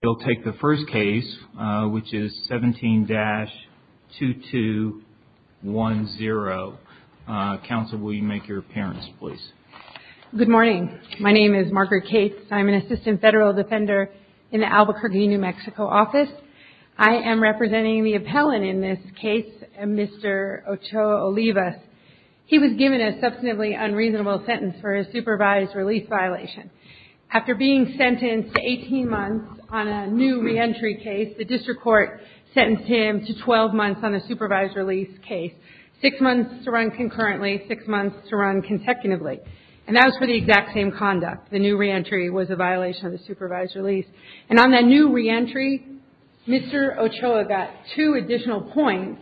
He'll take the first case, which is 17-2210. Counsel, will you make your appearance, please? Good morning. My name is Margaret Cates. I'm an assistant federal defender in the Albuquerque, New Mexico office. I am representing the appellant in this case, Mr. Ochoa-Olivas. He was given a substantively unreasonable sentence for a supervised release violation. After being sentenced to 18 months on a new reentry case, the district court sentenced him to 12 months on a supervised release case. Six months to run concurrently, six months to run consecutively. And that was for the exact same conduct. The new reentry was a violation of the supervised release. And on that new reentry, Mr. Ochoa got two additional points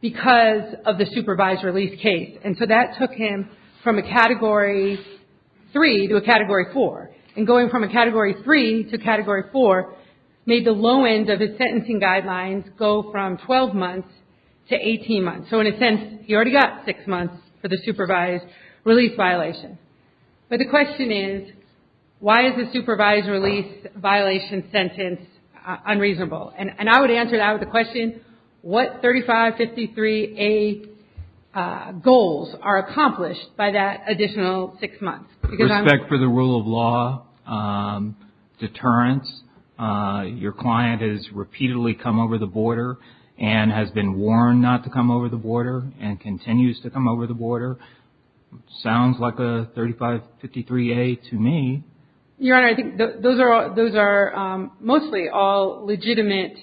because of the supervised release case. And so that took him from a Category 3 to a Category 4. And going from a Category 3 to a Category 4 made the low end of his sentencing guidelines go from 12 months to 18 months. So in a sense, he already got six months for the supervised release violation. But the question is, why is the supervised release violation sentence unreasonable? And I would answer that with the question, what 3553A goals are accomplished by that additional six months? Respect for the rule of law, deterrence, your client has repeatedly come over the border and has been warned not to come over the border, and continues to come over the border, sounds like a 3553A to me. Your Honor, I think those are mostly all legitimate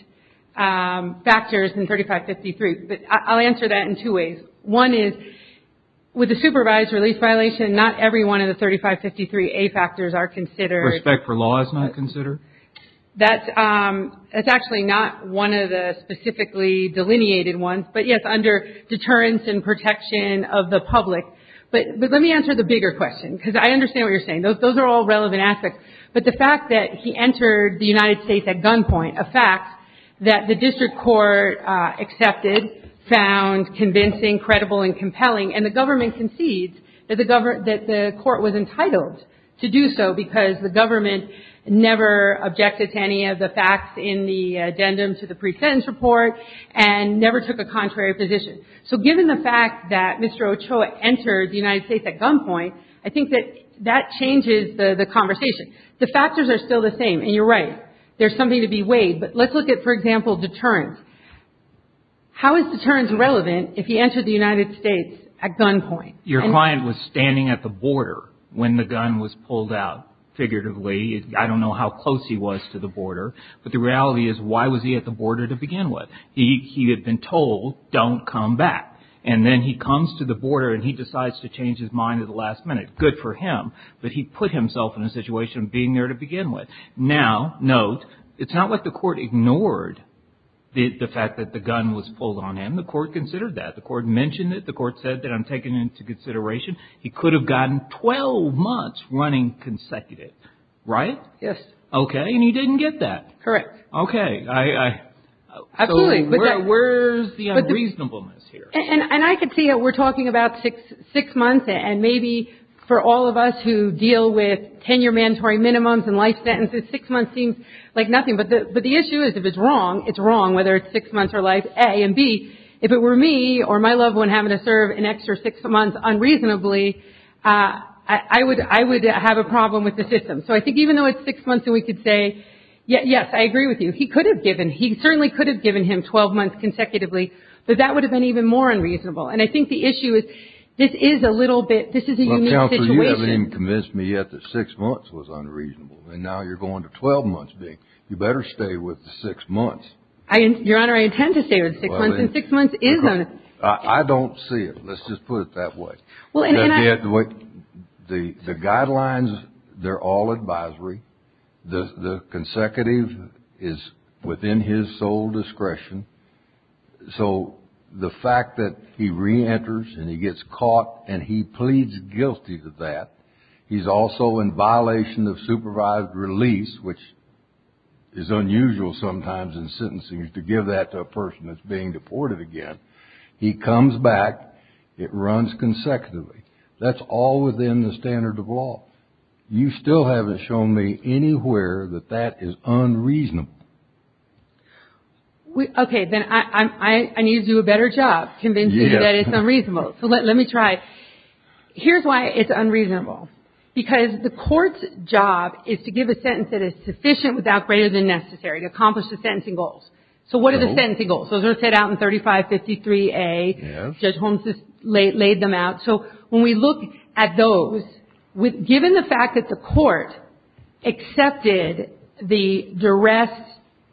factors in 3553. But I'll answer that in two ways. One is, with the supervised release violation, not every one of the 3553A factors are considered. Respect for law is not considered? That's actually not one of the specifically delineated ones. But yes, under deterrence and protection of the public. Those are all relevant aspects. But the fact that he entered the United States at gunpoint, a fact that the district court accepted, found convincing, credible, and compelling. And the government concedes that the court was entitled to do so because the government never objected to any of the facts in the addendum to the pre-sentence report, and never took a contrary position. So given the fact that Mr. Ochoa entered the United States at gunpoint, I think that that changes the conversation. The factors are still the same, and you're right. There's something to be weighed. But let's look at, for example, deterrence. How is deterrence relevant if he entered the United States at gunpoint? Your client was standing at the border when the gun was pulled out, figuratively. I don't know how close he was to the border. But the reality is, why was he at the border to begin with? He had been told, don't come back. And then he comes to the border, and he decides to change his mind at the last minute. Good for him. But he put himself in a situation of being there to begin with. Now, note, it's not like the court ignored the fact that the gun was pulled on him. The court considered that. The court mentioned it. The court said that, I'm taking it into consideration. He could have gotten 12 months running consecutive. Right? Yes. Okay. And he didn't get that. Correct. Okay. So where's the unreasonableness here? And I could see it. We're talking about six months, and maybe for all of us who deal with tenure mandatory minimums and life sentences, six months seems like nothing. But the issue is, if it's wrong, it's wrong, whether it's six months or life, A. And B, if it were me or my loved one having to serve an extra six months unreasonably, I would have a problem with the system. So I think even though it's six months, and we could say, yes, I agree with you. He could have given, he certainly could have given him 12 months consecutively, but that would have been even more unreasonable. And I think the issue is, this is a little bit, this is a unique situation. Counselor, you haven't even convinced me yet that six months was unreasonable, and now you're going to 12 months, B. You better stay with the six months. Your Honor, I intend to stay with six months, and six months is unreasonable. I don't see it. Let's just put it that way. The guidelines, they're all advisory. The consecutive is within his sole discretion. So the fact that he reenters and he gets caught and he pleads guilty to that, he's also in violation of supervised release, which is unusual sometimes in sentencing is to give that to a person that's being deported again. He comes back. It runs consecutively. That's all within the standard of law. You still haven't shown me anywhere that that is unreasonable. Okay. Then I need to do a better job convincing you that it's unreasonable. So let me try. Here's why it's unreasonable. Because the court's job is to give a sentence that is sufficient without greater than necessary, to accomplish the sentencing goals. So what are the sentencing goals? Those are set out in 3553A. Judge Holmes just laid them out. So when we look at those, given the fact that the court accepted the duress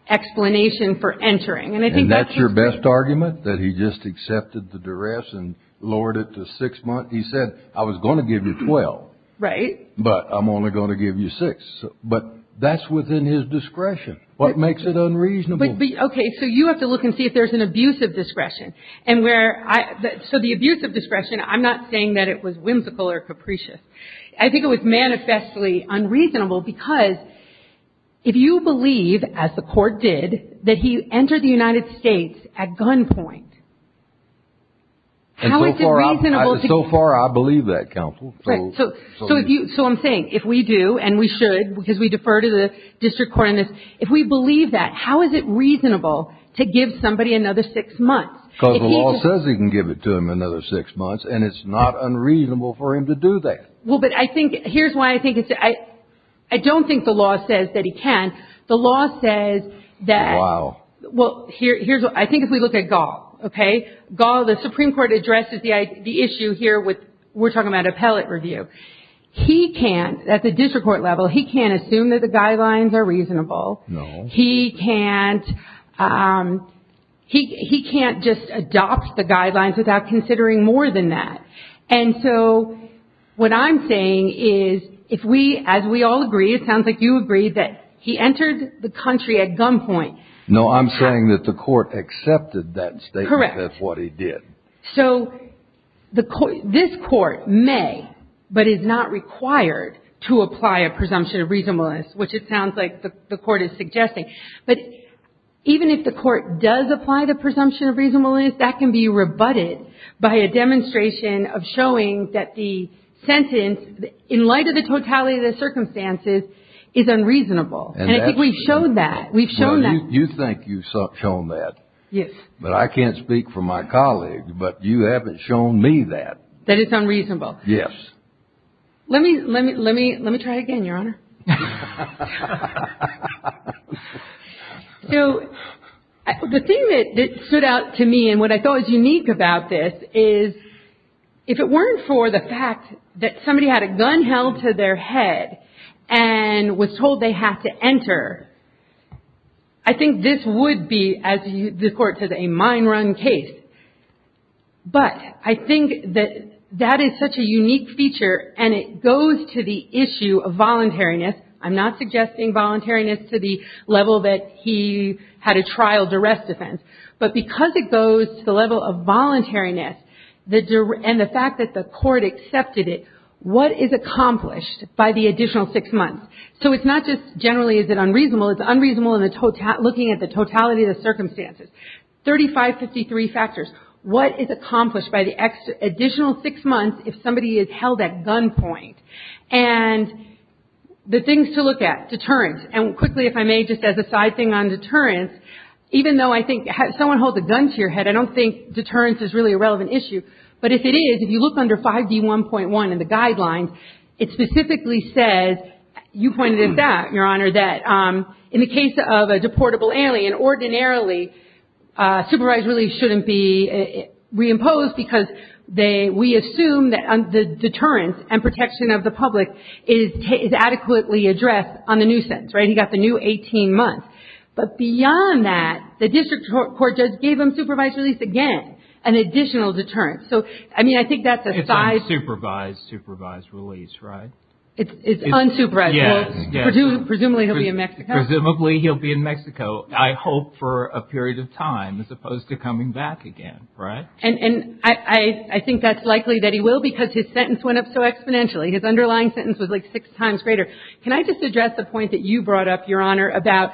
explanation for entering. And I think that's interesting. And that's your best argument, that he just accepted the duress and lowered it to six months? He said, I was going to give you 12. Right. But I'm only going to give you six. But that's within his discretion. What makes it unreasonable? Okay. So you have to look and see if there's an abuse of discretion. So the abuse of discretion, I'm not saying that it was whimsical or capricious. I think it was manifestly unreasonable because if you believe, as the court did, that he entered the United States at gunpoint, how is it reasonable to So far I believe that, counsel. So I'm saying, if we do, and we should, because we defer to the district court on this, if we believe that, how is it reasonable to give somebody another six months? Because the law says he can give it to him another six months, and it's not unreasonable for him to do that. Well, but I think, here's why I think it's, I don't think the law says that he can. The law says that. Wow. Well, here's what, I think if we look at Gall, okay? Gall, the Supreme Court addresses the issue here with, we're talking about appellate review. He can't, at the district court level, he can't assume that the guidelines are reasonable. No. He can't, he can't just adopt the guidelines without considering more than that. And so what I'm saying is, if we, as we all agree, it sounds like you agree, that he entered the country at gunpoint. No, I'm saying that the court accepted that statement. Correct. That's what he did. So this court may, but is not required, to apply a presumption of reasonableness, which it sounds like the court is suggesting. But even if the court does apply the presumption of reasonableness, that can be rebutted by a demonstration of showing that the sentence, in light of the totality of the circumstances, is unreasonable. And I think we've shown that. We've shown that. You think you've shown that. Yes. But I can't speak for my colleagues, but you haven't shown me that. That it's unreasonable. Yes. Let me, let me, let me, let me try again, Your Honor. So the thing that stood out to me and what I thought was unique about this is, if it weren't for the fact that somebody had a gun held to their head and was told they had to enter, I think this would be, as the court says, a mine run case. But I think that that is such a unique feature, and it goes to the issue of voluntariness. I'm not suggesting voluntariness to the level that he had a trial duress defense. But because it goes to the level of voluntariness, and the fact that the court accepted it, what is accomplished by the additional six months? So it's not just generally is it unreasonable. It's unreasonable looking at the totality of the circumstances. 3553 factors. What is accomplished by the additional six months if somebody is held at gunpoint? And the things to look at. Deterrence. And quickly, if I may, just as a side thing on deterrence, even though I think someone holds a gun to your head, I don't think deterrence is really a relevant issue. But if it is, if you look under 5D1.1 in the guidelines, it specifically says, you pointed it out, Your Honor, that in the case of a deportable alien, ordinarily supervised release shouldn't be reimposed because we assume that the deterrence and protection of the public is adequately addressed on the new sentence. Right? He got the new 18 months. But beyond that, the district court just gave him supervised release again, an additional deterrence. So, I mean, I think that's a size. It's unsupervised supervised release, right? It's unsupervised. Yes. Presumably he'll be in Mexico. Presumably he'll be in Mexico, I hope, for a period of time as opposed to coming back again. Right? And I think that's likely that he will because his sentence went up so exponentially. His underlying sentence was like six times greater. Can I just address the point that you brought up, Your Honor, about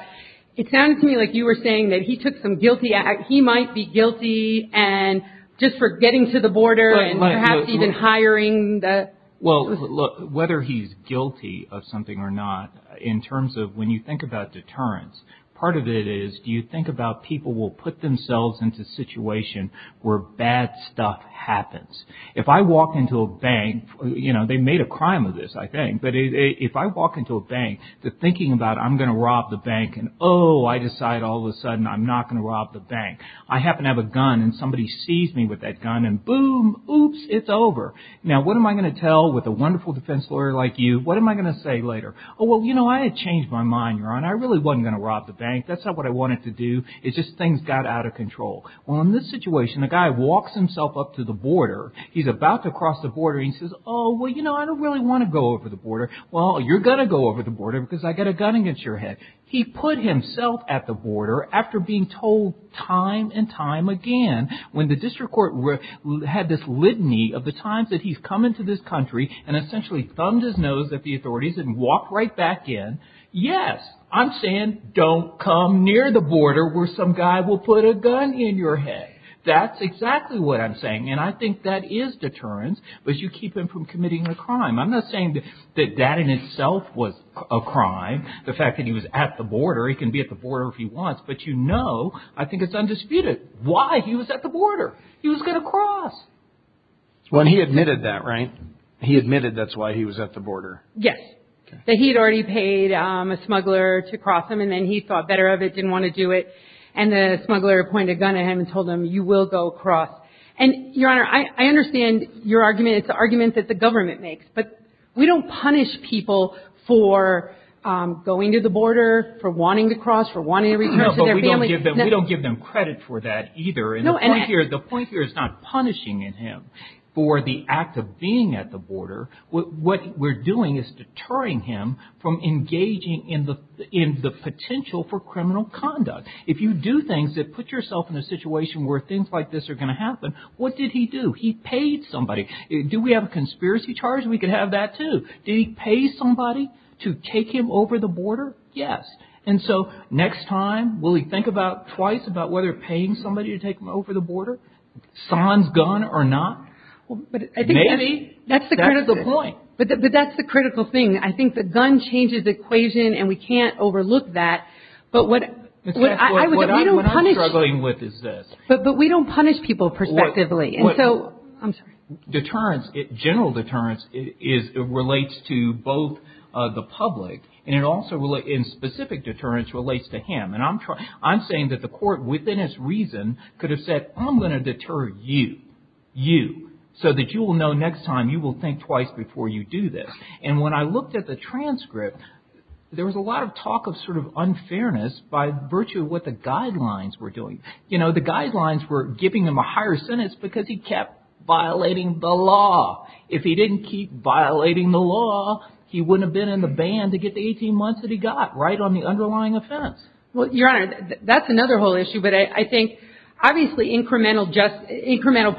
it sounded to me like you were saying that he took some guilty act. He might be guilty and just for getting to the border and perhaps even hiring the. Well, look, whether he's guilty of something or not, in terms of when you think about deterrence, part of it is do you think about people will put themselves into a situation where bad stuff happens. If I walk into a bank, you know, they made a crime of this, I think. But if I walk into a bank thinking about I'm going to rob the bank and, oh, I decide all of a sudden I'm not going to rob the bank, I happen to have a gun and somebody sees me with that gun and, boom, oops, it's over. Now, what am I going to tell with a wonderful defense lawyer like you? What am I going to say later? Oh, well, you know, I had changed my mind, Your Honor. I really wasn't going to rob the bank. That's not what I wanted to do. It's just things got out of control. Well, in this situation, the guy walks himself up to the border. He's about to cross the border. He says, oh, well, you know, I don't really want to go over the border. Well, you're going to go over the border because I got a gun against your head. He put himself at the border after being told time and time again when the district court had this litany of the times that he's come into this country and essentially thumbed his nose at the authorities and walked right back in, yes, I'm saying don't come near the border where some guy will put a gun in your head. That's exactly what I'm saying, and I think that is deterrence, but you keep him from committing a crime. I'm not saying that that in itself was a crime, the fact that he was at the border. He can be at the border if he wants, but, you know, I think it's undisputed why he was at the border. He was going to cross. When he admitted that, right, he admitted that's why he was at the border. Yes, that he had already paid a smuggler to cross him, and then he thought better of it, didn't want to do it, and the smuggler pointed a gun at him and told him, you will go across, and, Your Honor, I understand your argument. It's an argument that the government makes, but we don't punish people for going to the border, for wanting to cross, for wanting to return to their families. We don't give them credit for that either, and the point here is not punishing him for the act of being at the border. What we're doing is deterring him from engaging in the potential for criminal conduct. If you do things that put yourself in a situation where things like this are going to happen, what did he do? He paid somebody. Do we have a conspiracy charge? We could have that, too. Did he pay somebody to take him over the border? Yes. And so next time, will he think about, twice, about whether paying somebody to take him over the border, sans gun or not? Maybe. That's the critical point. But that's the critical thing. I think the gun changes the equation, and we can't overlook that. But what I'm struggling with is this. But we don't punish people perspectively. And so, I'm sorry. Deterrence, general deterrence, relates to both the public, and it also, in specific deterrence, relates to him. And I'm saying that the court, within its reason, could have said, I'm going to deter you, you, so that you will know next time you will think twice before you do this. And when I looked at the transcript, there was a lot of talk of sort of unfairness by virtue of what the guidelines were doing. You know, the guidelines were giving him a higher sentence because he kept violating the law. If he didn't keep violating the law, he wouldn't have been in the band to get the 18 months that he got, right, on the underlying offense. Well, Your Honor, that's another whole issue. But I think, obviously, incremental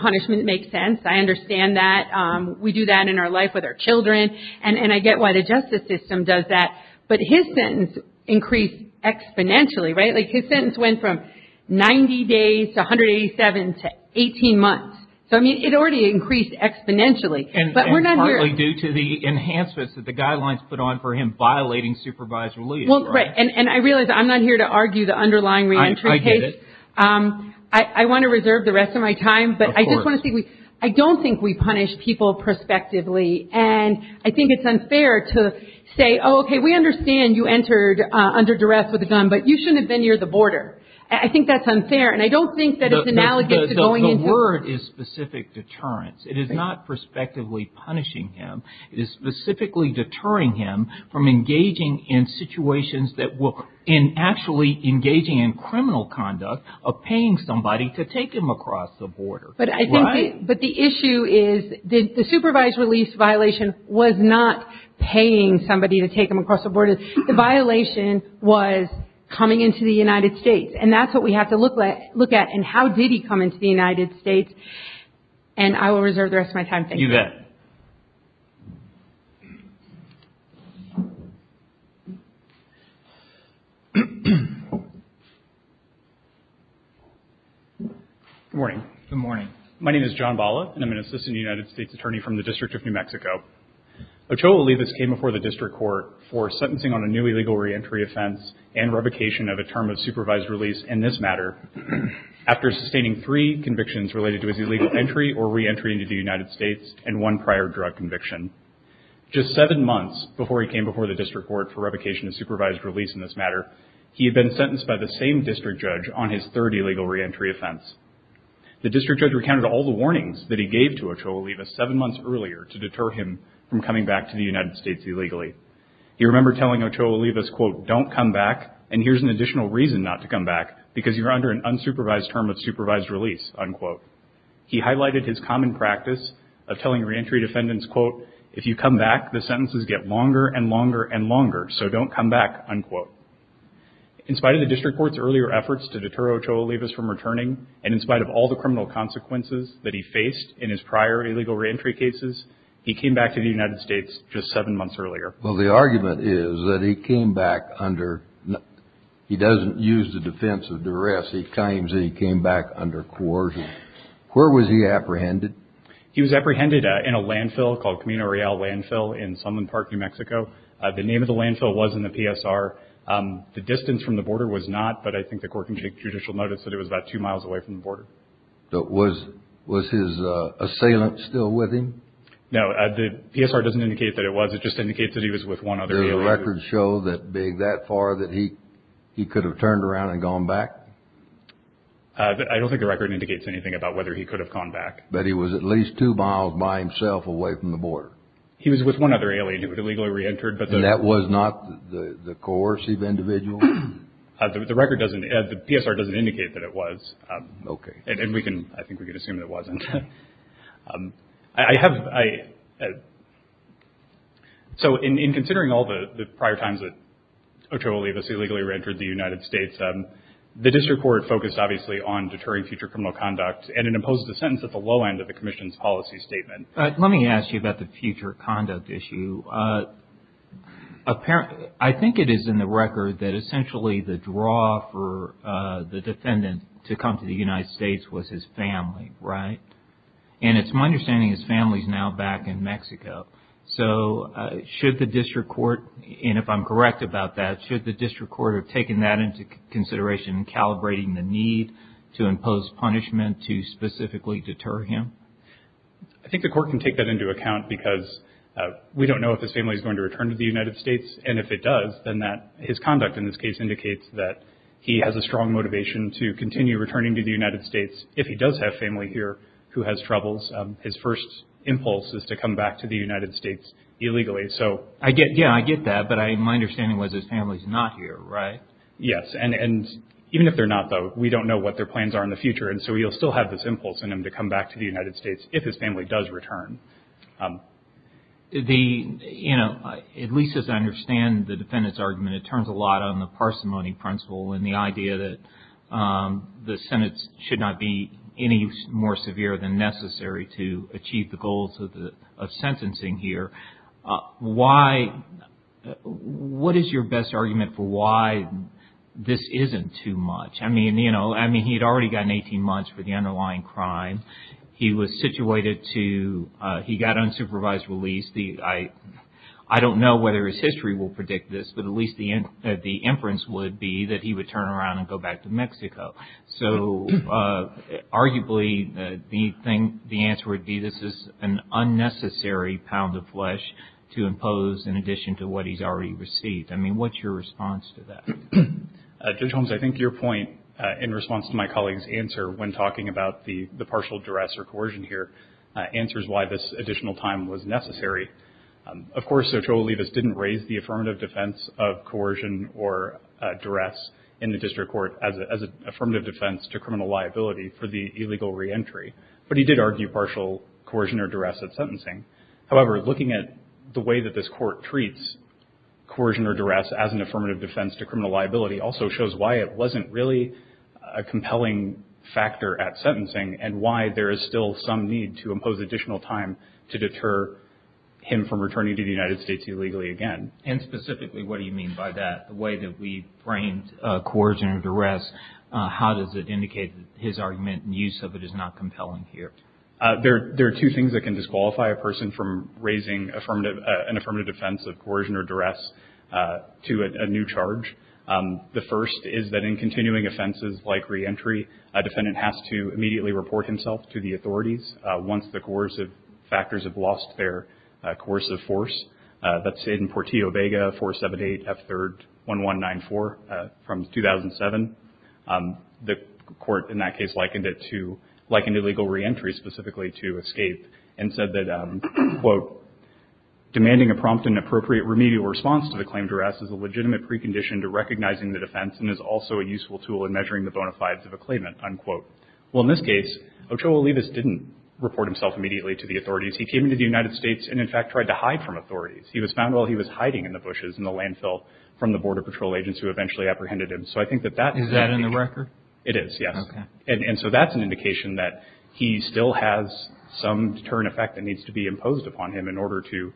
punishment makes sense. I understand that. We do that in our life with our children. And I get why the justice system does that. But his sentence increased exponentially, right? Like, his sentence went from 90 days to 187 to 18 months. So, I mean, it already increased exponentially. And partly due to the enhancements that the guidelines put on for him violating supervisory leave, right? Well, and I realize I'm not here to argue the underlying re-entry case. I get it. I want to reserve the rest of my time. Of course. But I just want to say, I don't think we punish people prospectively. And I think it's unfair to say, oh, okay, we understand you entered under duress with a gun. But you shouldn't have been near the border. I think that's unfair. And I don't think that it's analogous to going into – The word is specific deterrence. It is not prospectively punishing him. It is specifically deterring him from engaging in situations that will – and actually engaging in criminal conduct of paying somebody to take him across the border. Right? But the issue is the supervised release violation was not paying somebody to take him across the border. The violation was coming into the United States. And that's what we have to look at. And how did he come into the United States? And I will reserve the rest of my time. Thank you. You bet. Good morning. Good morning. My name is John Balla, and I'm an assistant United States attorney from the District of New Mexico. Ochoa Olivas came before the District Court for sentencing on a new illegal reentry offense and revocation of a term of supervised release in this matter after sustaining three convictions related to his illegal entry or reentry into the United States and one prior drug conviction. Just seven months before he came before the District Court for revocation of supervised release in this matter, he had been sentenced by the same district judge on his third illegal reentry offense. The district judge recounted all the warnings that he gave to Ochoa Olivas seven months earlier to deter him from coming back to the United States illegally. He remembered telling Ochoa Olivas, quote, don't come back, and here's an additional reason not to come back, because you're under an unsupervised term of supervised release, unquote. He highlighted his common practice of telling reentry defendants, quote, if you come back, the sentences get longer and longer and longer, so don't come back, unquote. In spite of the District Court's earlier efforts to deter Ochoa Olivas from returning and in spite of all the criminal consequences that he faced in his prior illegal reentry cases, he came back to the United States just seven months earlier. Well, the argument is that he came back under – he doesn't use the defense of duress. He claims that he came back under coercion. Where was he apprehended? He was apprehended in a landfill called Camino Real Landfill in Salmon Park, New Mexico. The name of the landfill was in the PSR. The distance from the border was not, but I think the court can take judicial notice that it was about two miles away from the border. Was his assailant still with him? No, the PSR doesn't indicate that it was. It just indicates that he was with one other alien. Do the records show that being that far that he could have turned around and gone back? I don't think the record indicates anything about whether he could have gone back. But he was at least two miles by himself away from the border. He was with one other alien who had illegally reentered. And that was not the coercive individual? The record doesn't – the PSR doesn't indicate that it was. Okay. And we can – I think we can assume that it wasn't. I have – so in considering all the prior times that Ochoa Olivas illegally reentered the United States, the district court focused obviously on deterring future criminal conduct and it imposed a sentence at the low end of the commission's policy statement. Let me ask you about the future conduct issue. I think it is in the record that essentially the draw for the defendant to come to the United States was his family, right? And it's my understanding his family is now back in Mexico. So should the district court – and if I'm correct about that, should the district court have taken that into consideration in calibrating the need to impose punishment to specifically deter him? I think the court can take that into account because we don't know if his family is going to return to the United States. And if it does, then that – his conduct in this case indicates that he has a strong motivation to continue returning to the United States. If he does have family here who has troubles, his first impulse is to come back to the United States illegally. So I get – yeah, I get that. But my understanding was his family is not here, right? Yes. And even if they're not, though, we don't know what their plans are in the future. And so you'll still have this impulse in him to come back to the United States if his family does return. The – you know, at least as I understand the defendant's argument, it turns a lot on the parsimony principle and the idea that the sentence should not be any more severe than necessary to achieve the goals of sentencing here. Why – what is your best argument for why this isn't too much? I mean, you know, I mean, he had already gotten 18 months for the underlying crime. He was situated to – he got unsupervised release. I don't know whether his history will predict this, but at least the inference would be that he would turn around and go back to Mexico. So arguably, the answer would be this is an unnecessary pound of flesh to impose in addition to what he's already received. I mean, what's your response to that? Judge Holmes, I think your point in response to my colleague's answer when talking about the partial duress or coercion here answers why this additional time was necessary. Of course, Sotolo Levis didn't raise the affirmative defense of coercion or duress in the district court as an affirmative defense to criminal liability for the illegal reentry, but he did argue partial coercion or duress at sentencing. However, looking at the way that this court treats coercion or duress as an affirmative defense to criminal liability also shows why it wasn't really a compelling factor at sentencing and why there is still some need to impose additional time to deter him from returning to the United States illegally again. And specifically, what do you mean by that? The way that we framed coercion or duress, how does it indicate that his argument and use of it is not compelling here? There are two things that can disqualify a person from raising an affirmative defense of coercion or duress to a new charge. The first is that in continuing offenses like reentry, a defendant has to immediately report himself to the authorities once the coercive factors have lost their coercive force. That's in Portillo-Baga 478F3-1194 from 2007. The court in that case likened it to, likened illegal reentry specifically to escape and said that, quote, demanding a prompt and appropriate remedial response to the claim duress is a legitimate precondition to recognizing the defense and is also a useful tool in measuring the bona fides of a claimant, unquote. Well, in this case, Ochoa Olivas didn't report himself immediately to the authorities. He came into the United States and, in fact, tried to hide from authorities. He was found while he was hiding in the bushes in the landfill from the Border Patrol agents who eventually apprehended him. So I think that that is that in the record. It is. Yes. And so that's an indication that he still has some deterrent effect that needs to be imposed upon him in order to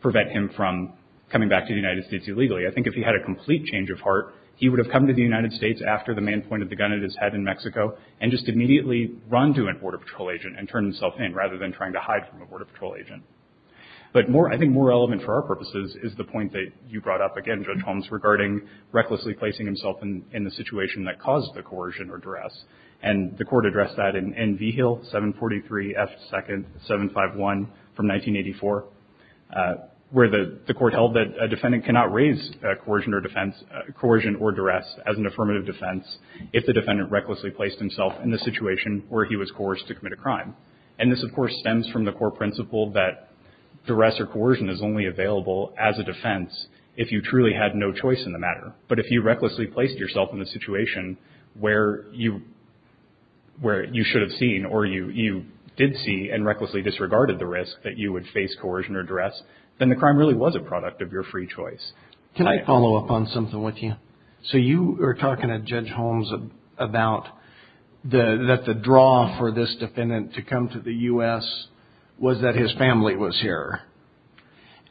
prevent him from coming back to the United States illegally. I think if he had a complete change of heart, he would have come to the United States after the man pointed the gun at his head in Mexico and just immediately run to a Border Patrol agent and turn himself in rather than trying to hide from a Border Patrol agent. But more I think more relevant for our purposes is the point that you brought up again, Judge Holmes, regarding recklessly placing himself in the situation that caused the coercion or duress. And the Court addressed that in Vigil 743 F. 2nd 751 from 1984, where the Court held that a defendant cannot raise coercion or duress as an affirmative defense if the defendant recklessly placed himself in the situation where he was coerced to commit a crime. And this, of course, stems from the core principle that duress or coercion is only available as a defense if you truly had no choice in the matter. But if you recklessly placed yourself in the situation where you should have seen or you did see and recklessly disregarded the risk that you would face coercion or duress, then the crime really was a product of your free choice. Can I follow up on something with you? So you were talking to Judge Holmes about that the draw for this defendant to come to the U.S. was that his family was here.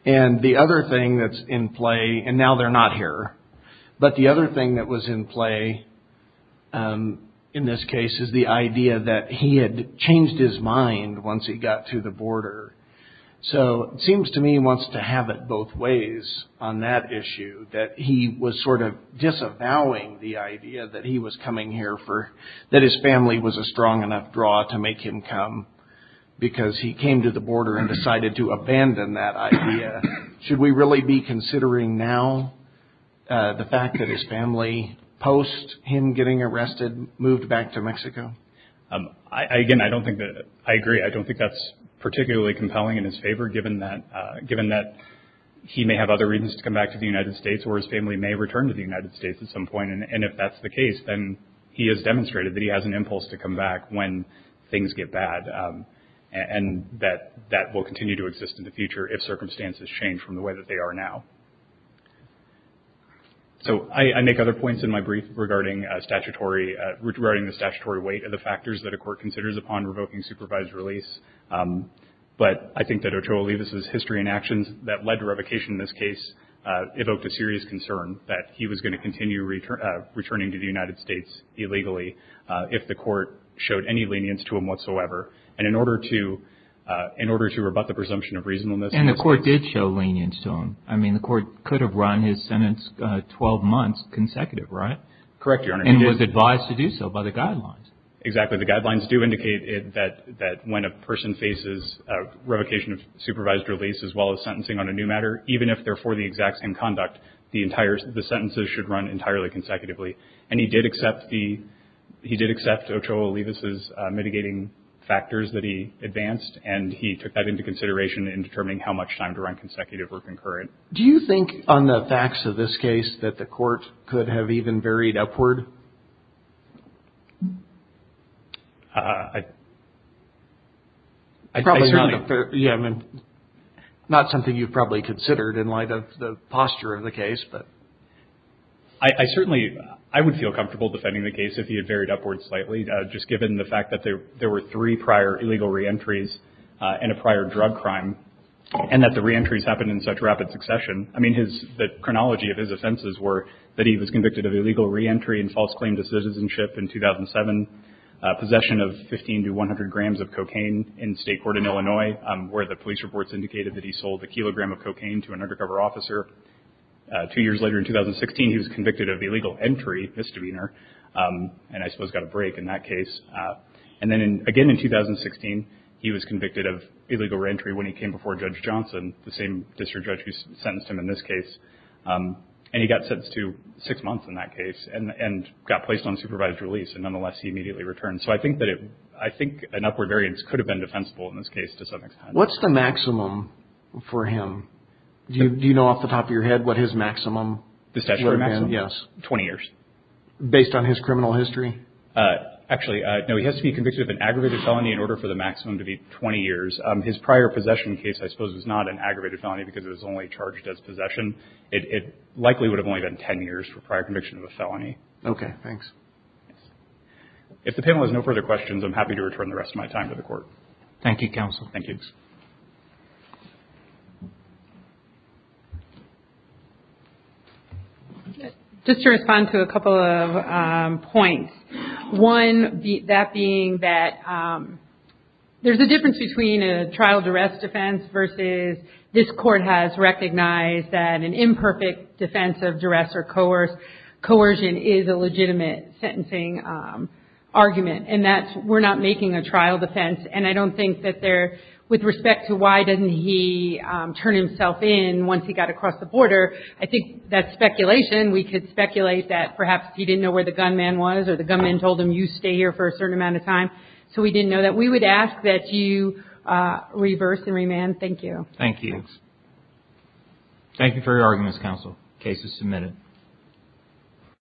And the other thing that's in play, and now they're not here, but the other thing that was in play in this case is the idea that he had changed his mind once he got to the border. So it seems to me he wants to have it both ways on that issue, that he was sort of disavowing the idea that he was coming here for, that his family was a strong enough draw to make him come because he came to the border and decided to abandon that idea. Should we really be considering now the fact that his family, post him getting arrested, moved back to Mexico? Again, I agree. I don't think that's particularly compelling in his favor, given that he may have other reasons to come back to the United States or his family may return to the United States at some point. And if that's the case, then he has demonstrated that he has an impulse to come back when things get bad and that that will continue to exist in the future if circumstances change from the way that they are now. So I make other points in my brief regarding statutory, regarding the statutory weight of the factors that a court considers upon revoking supervised release. But I think that Ochoa Olivas' history and actions that led to revocation in this case evoked a serious concern that he was going to continue returning to the United States illegally if the court showed any lenience to him whatsoever. And in order to rebut the presumption of reasonableness. And the court did show lenience to him. I mean, the court could have run his sentence 12 months consecutive, right? Correct, Your Honor. And was advised to do so by the guidelines. Exactly. The guidelines do indicate that when a person faces revocation of supervised release, as well as sentencing on a new matter, even if they're for the exact same conduct, the entire, the sentences should run entirely consecutively. And he did accept the, he did accept Ochoa Olivas' mitigating factors that he advanced. And he took that into consideration in determining how much time to run consecutive or concurrent. Do you think on the facts of this case that the court could have even varied upward? Probably not. Yeah, I mean. Not something you've probably considered in light of the posture of the case, but. I certainly, I would feel comfortable defending the case if he had varied upward slightly. Just given the fact that there were three prior illegal reentries in a prior drug crime. And that the reentries happened in such rapid succession. I mean, his, the chronology of his offenses were that he was convicted of illegal reentry and false claim to citizenship in 2007. Possession of 15 to 100 grams of cocaine in state court in Illinois, where the police reports indicated that he sold a kilogram of cocaine to an undercover officer. Two years later in 2016, he was convicted of illegal entry misdemeanor. And I suppose got a break in that case. And then again in 2016, he was convicted of illegal reentry when he came before Judge Johnson, the same district judge who sentenced him in this case. And he got sentenced to six months in that case. And got placed on supervised release. And nonetheless, he immediately returned. So I think that it, I think an upward variance could have been defensible in this case to some extent. What's the maximum for him? Do you know off the top of your head what his maximum would have been? The statutory maximum? Yes. 20 years. Based on his criminal history? Actually, no. He has to be convicted of an aggravated felony in order for the maximum to be 20 years. His prior possession case, I suppose, was not an aggravated felony because it was only charged as possession. It likely would have only been 10 years for prior conviction of a felony. Okay. Thanks. If the panel has no further questions, I'm happy to return the rest of my time to the Court. Thank you, Counsel. Thank you. Just to respond to a couple of points. One, that being that there's a difference between a trial duress defense versus this Court has recognized that an imperfect defense of duress or coercion is a legitimate sentencing argument. And that's we're not making a trial defense. And I don't think that there, with respect to why didn't he turn himself in once he got across the border, I think that's speculation. We could speculate that perhaps he didn't know where the gunman was or the gunman told him, you stay here for a certain amount of time. So we didn't know that. We would ask that you reverse and remand. Thank you. Thank you. Thank you for your arguments, Counsel. The case is submitted.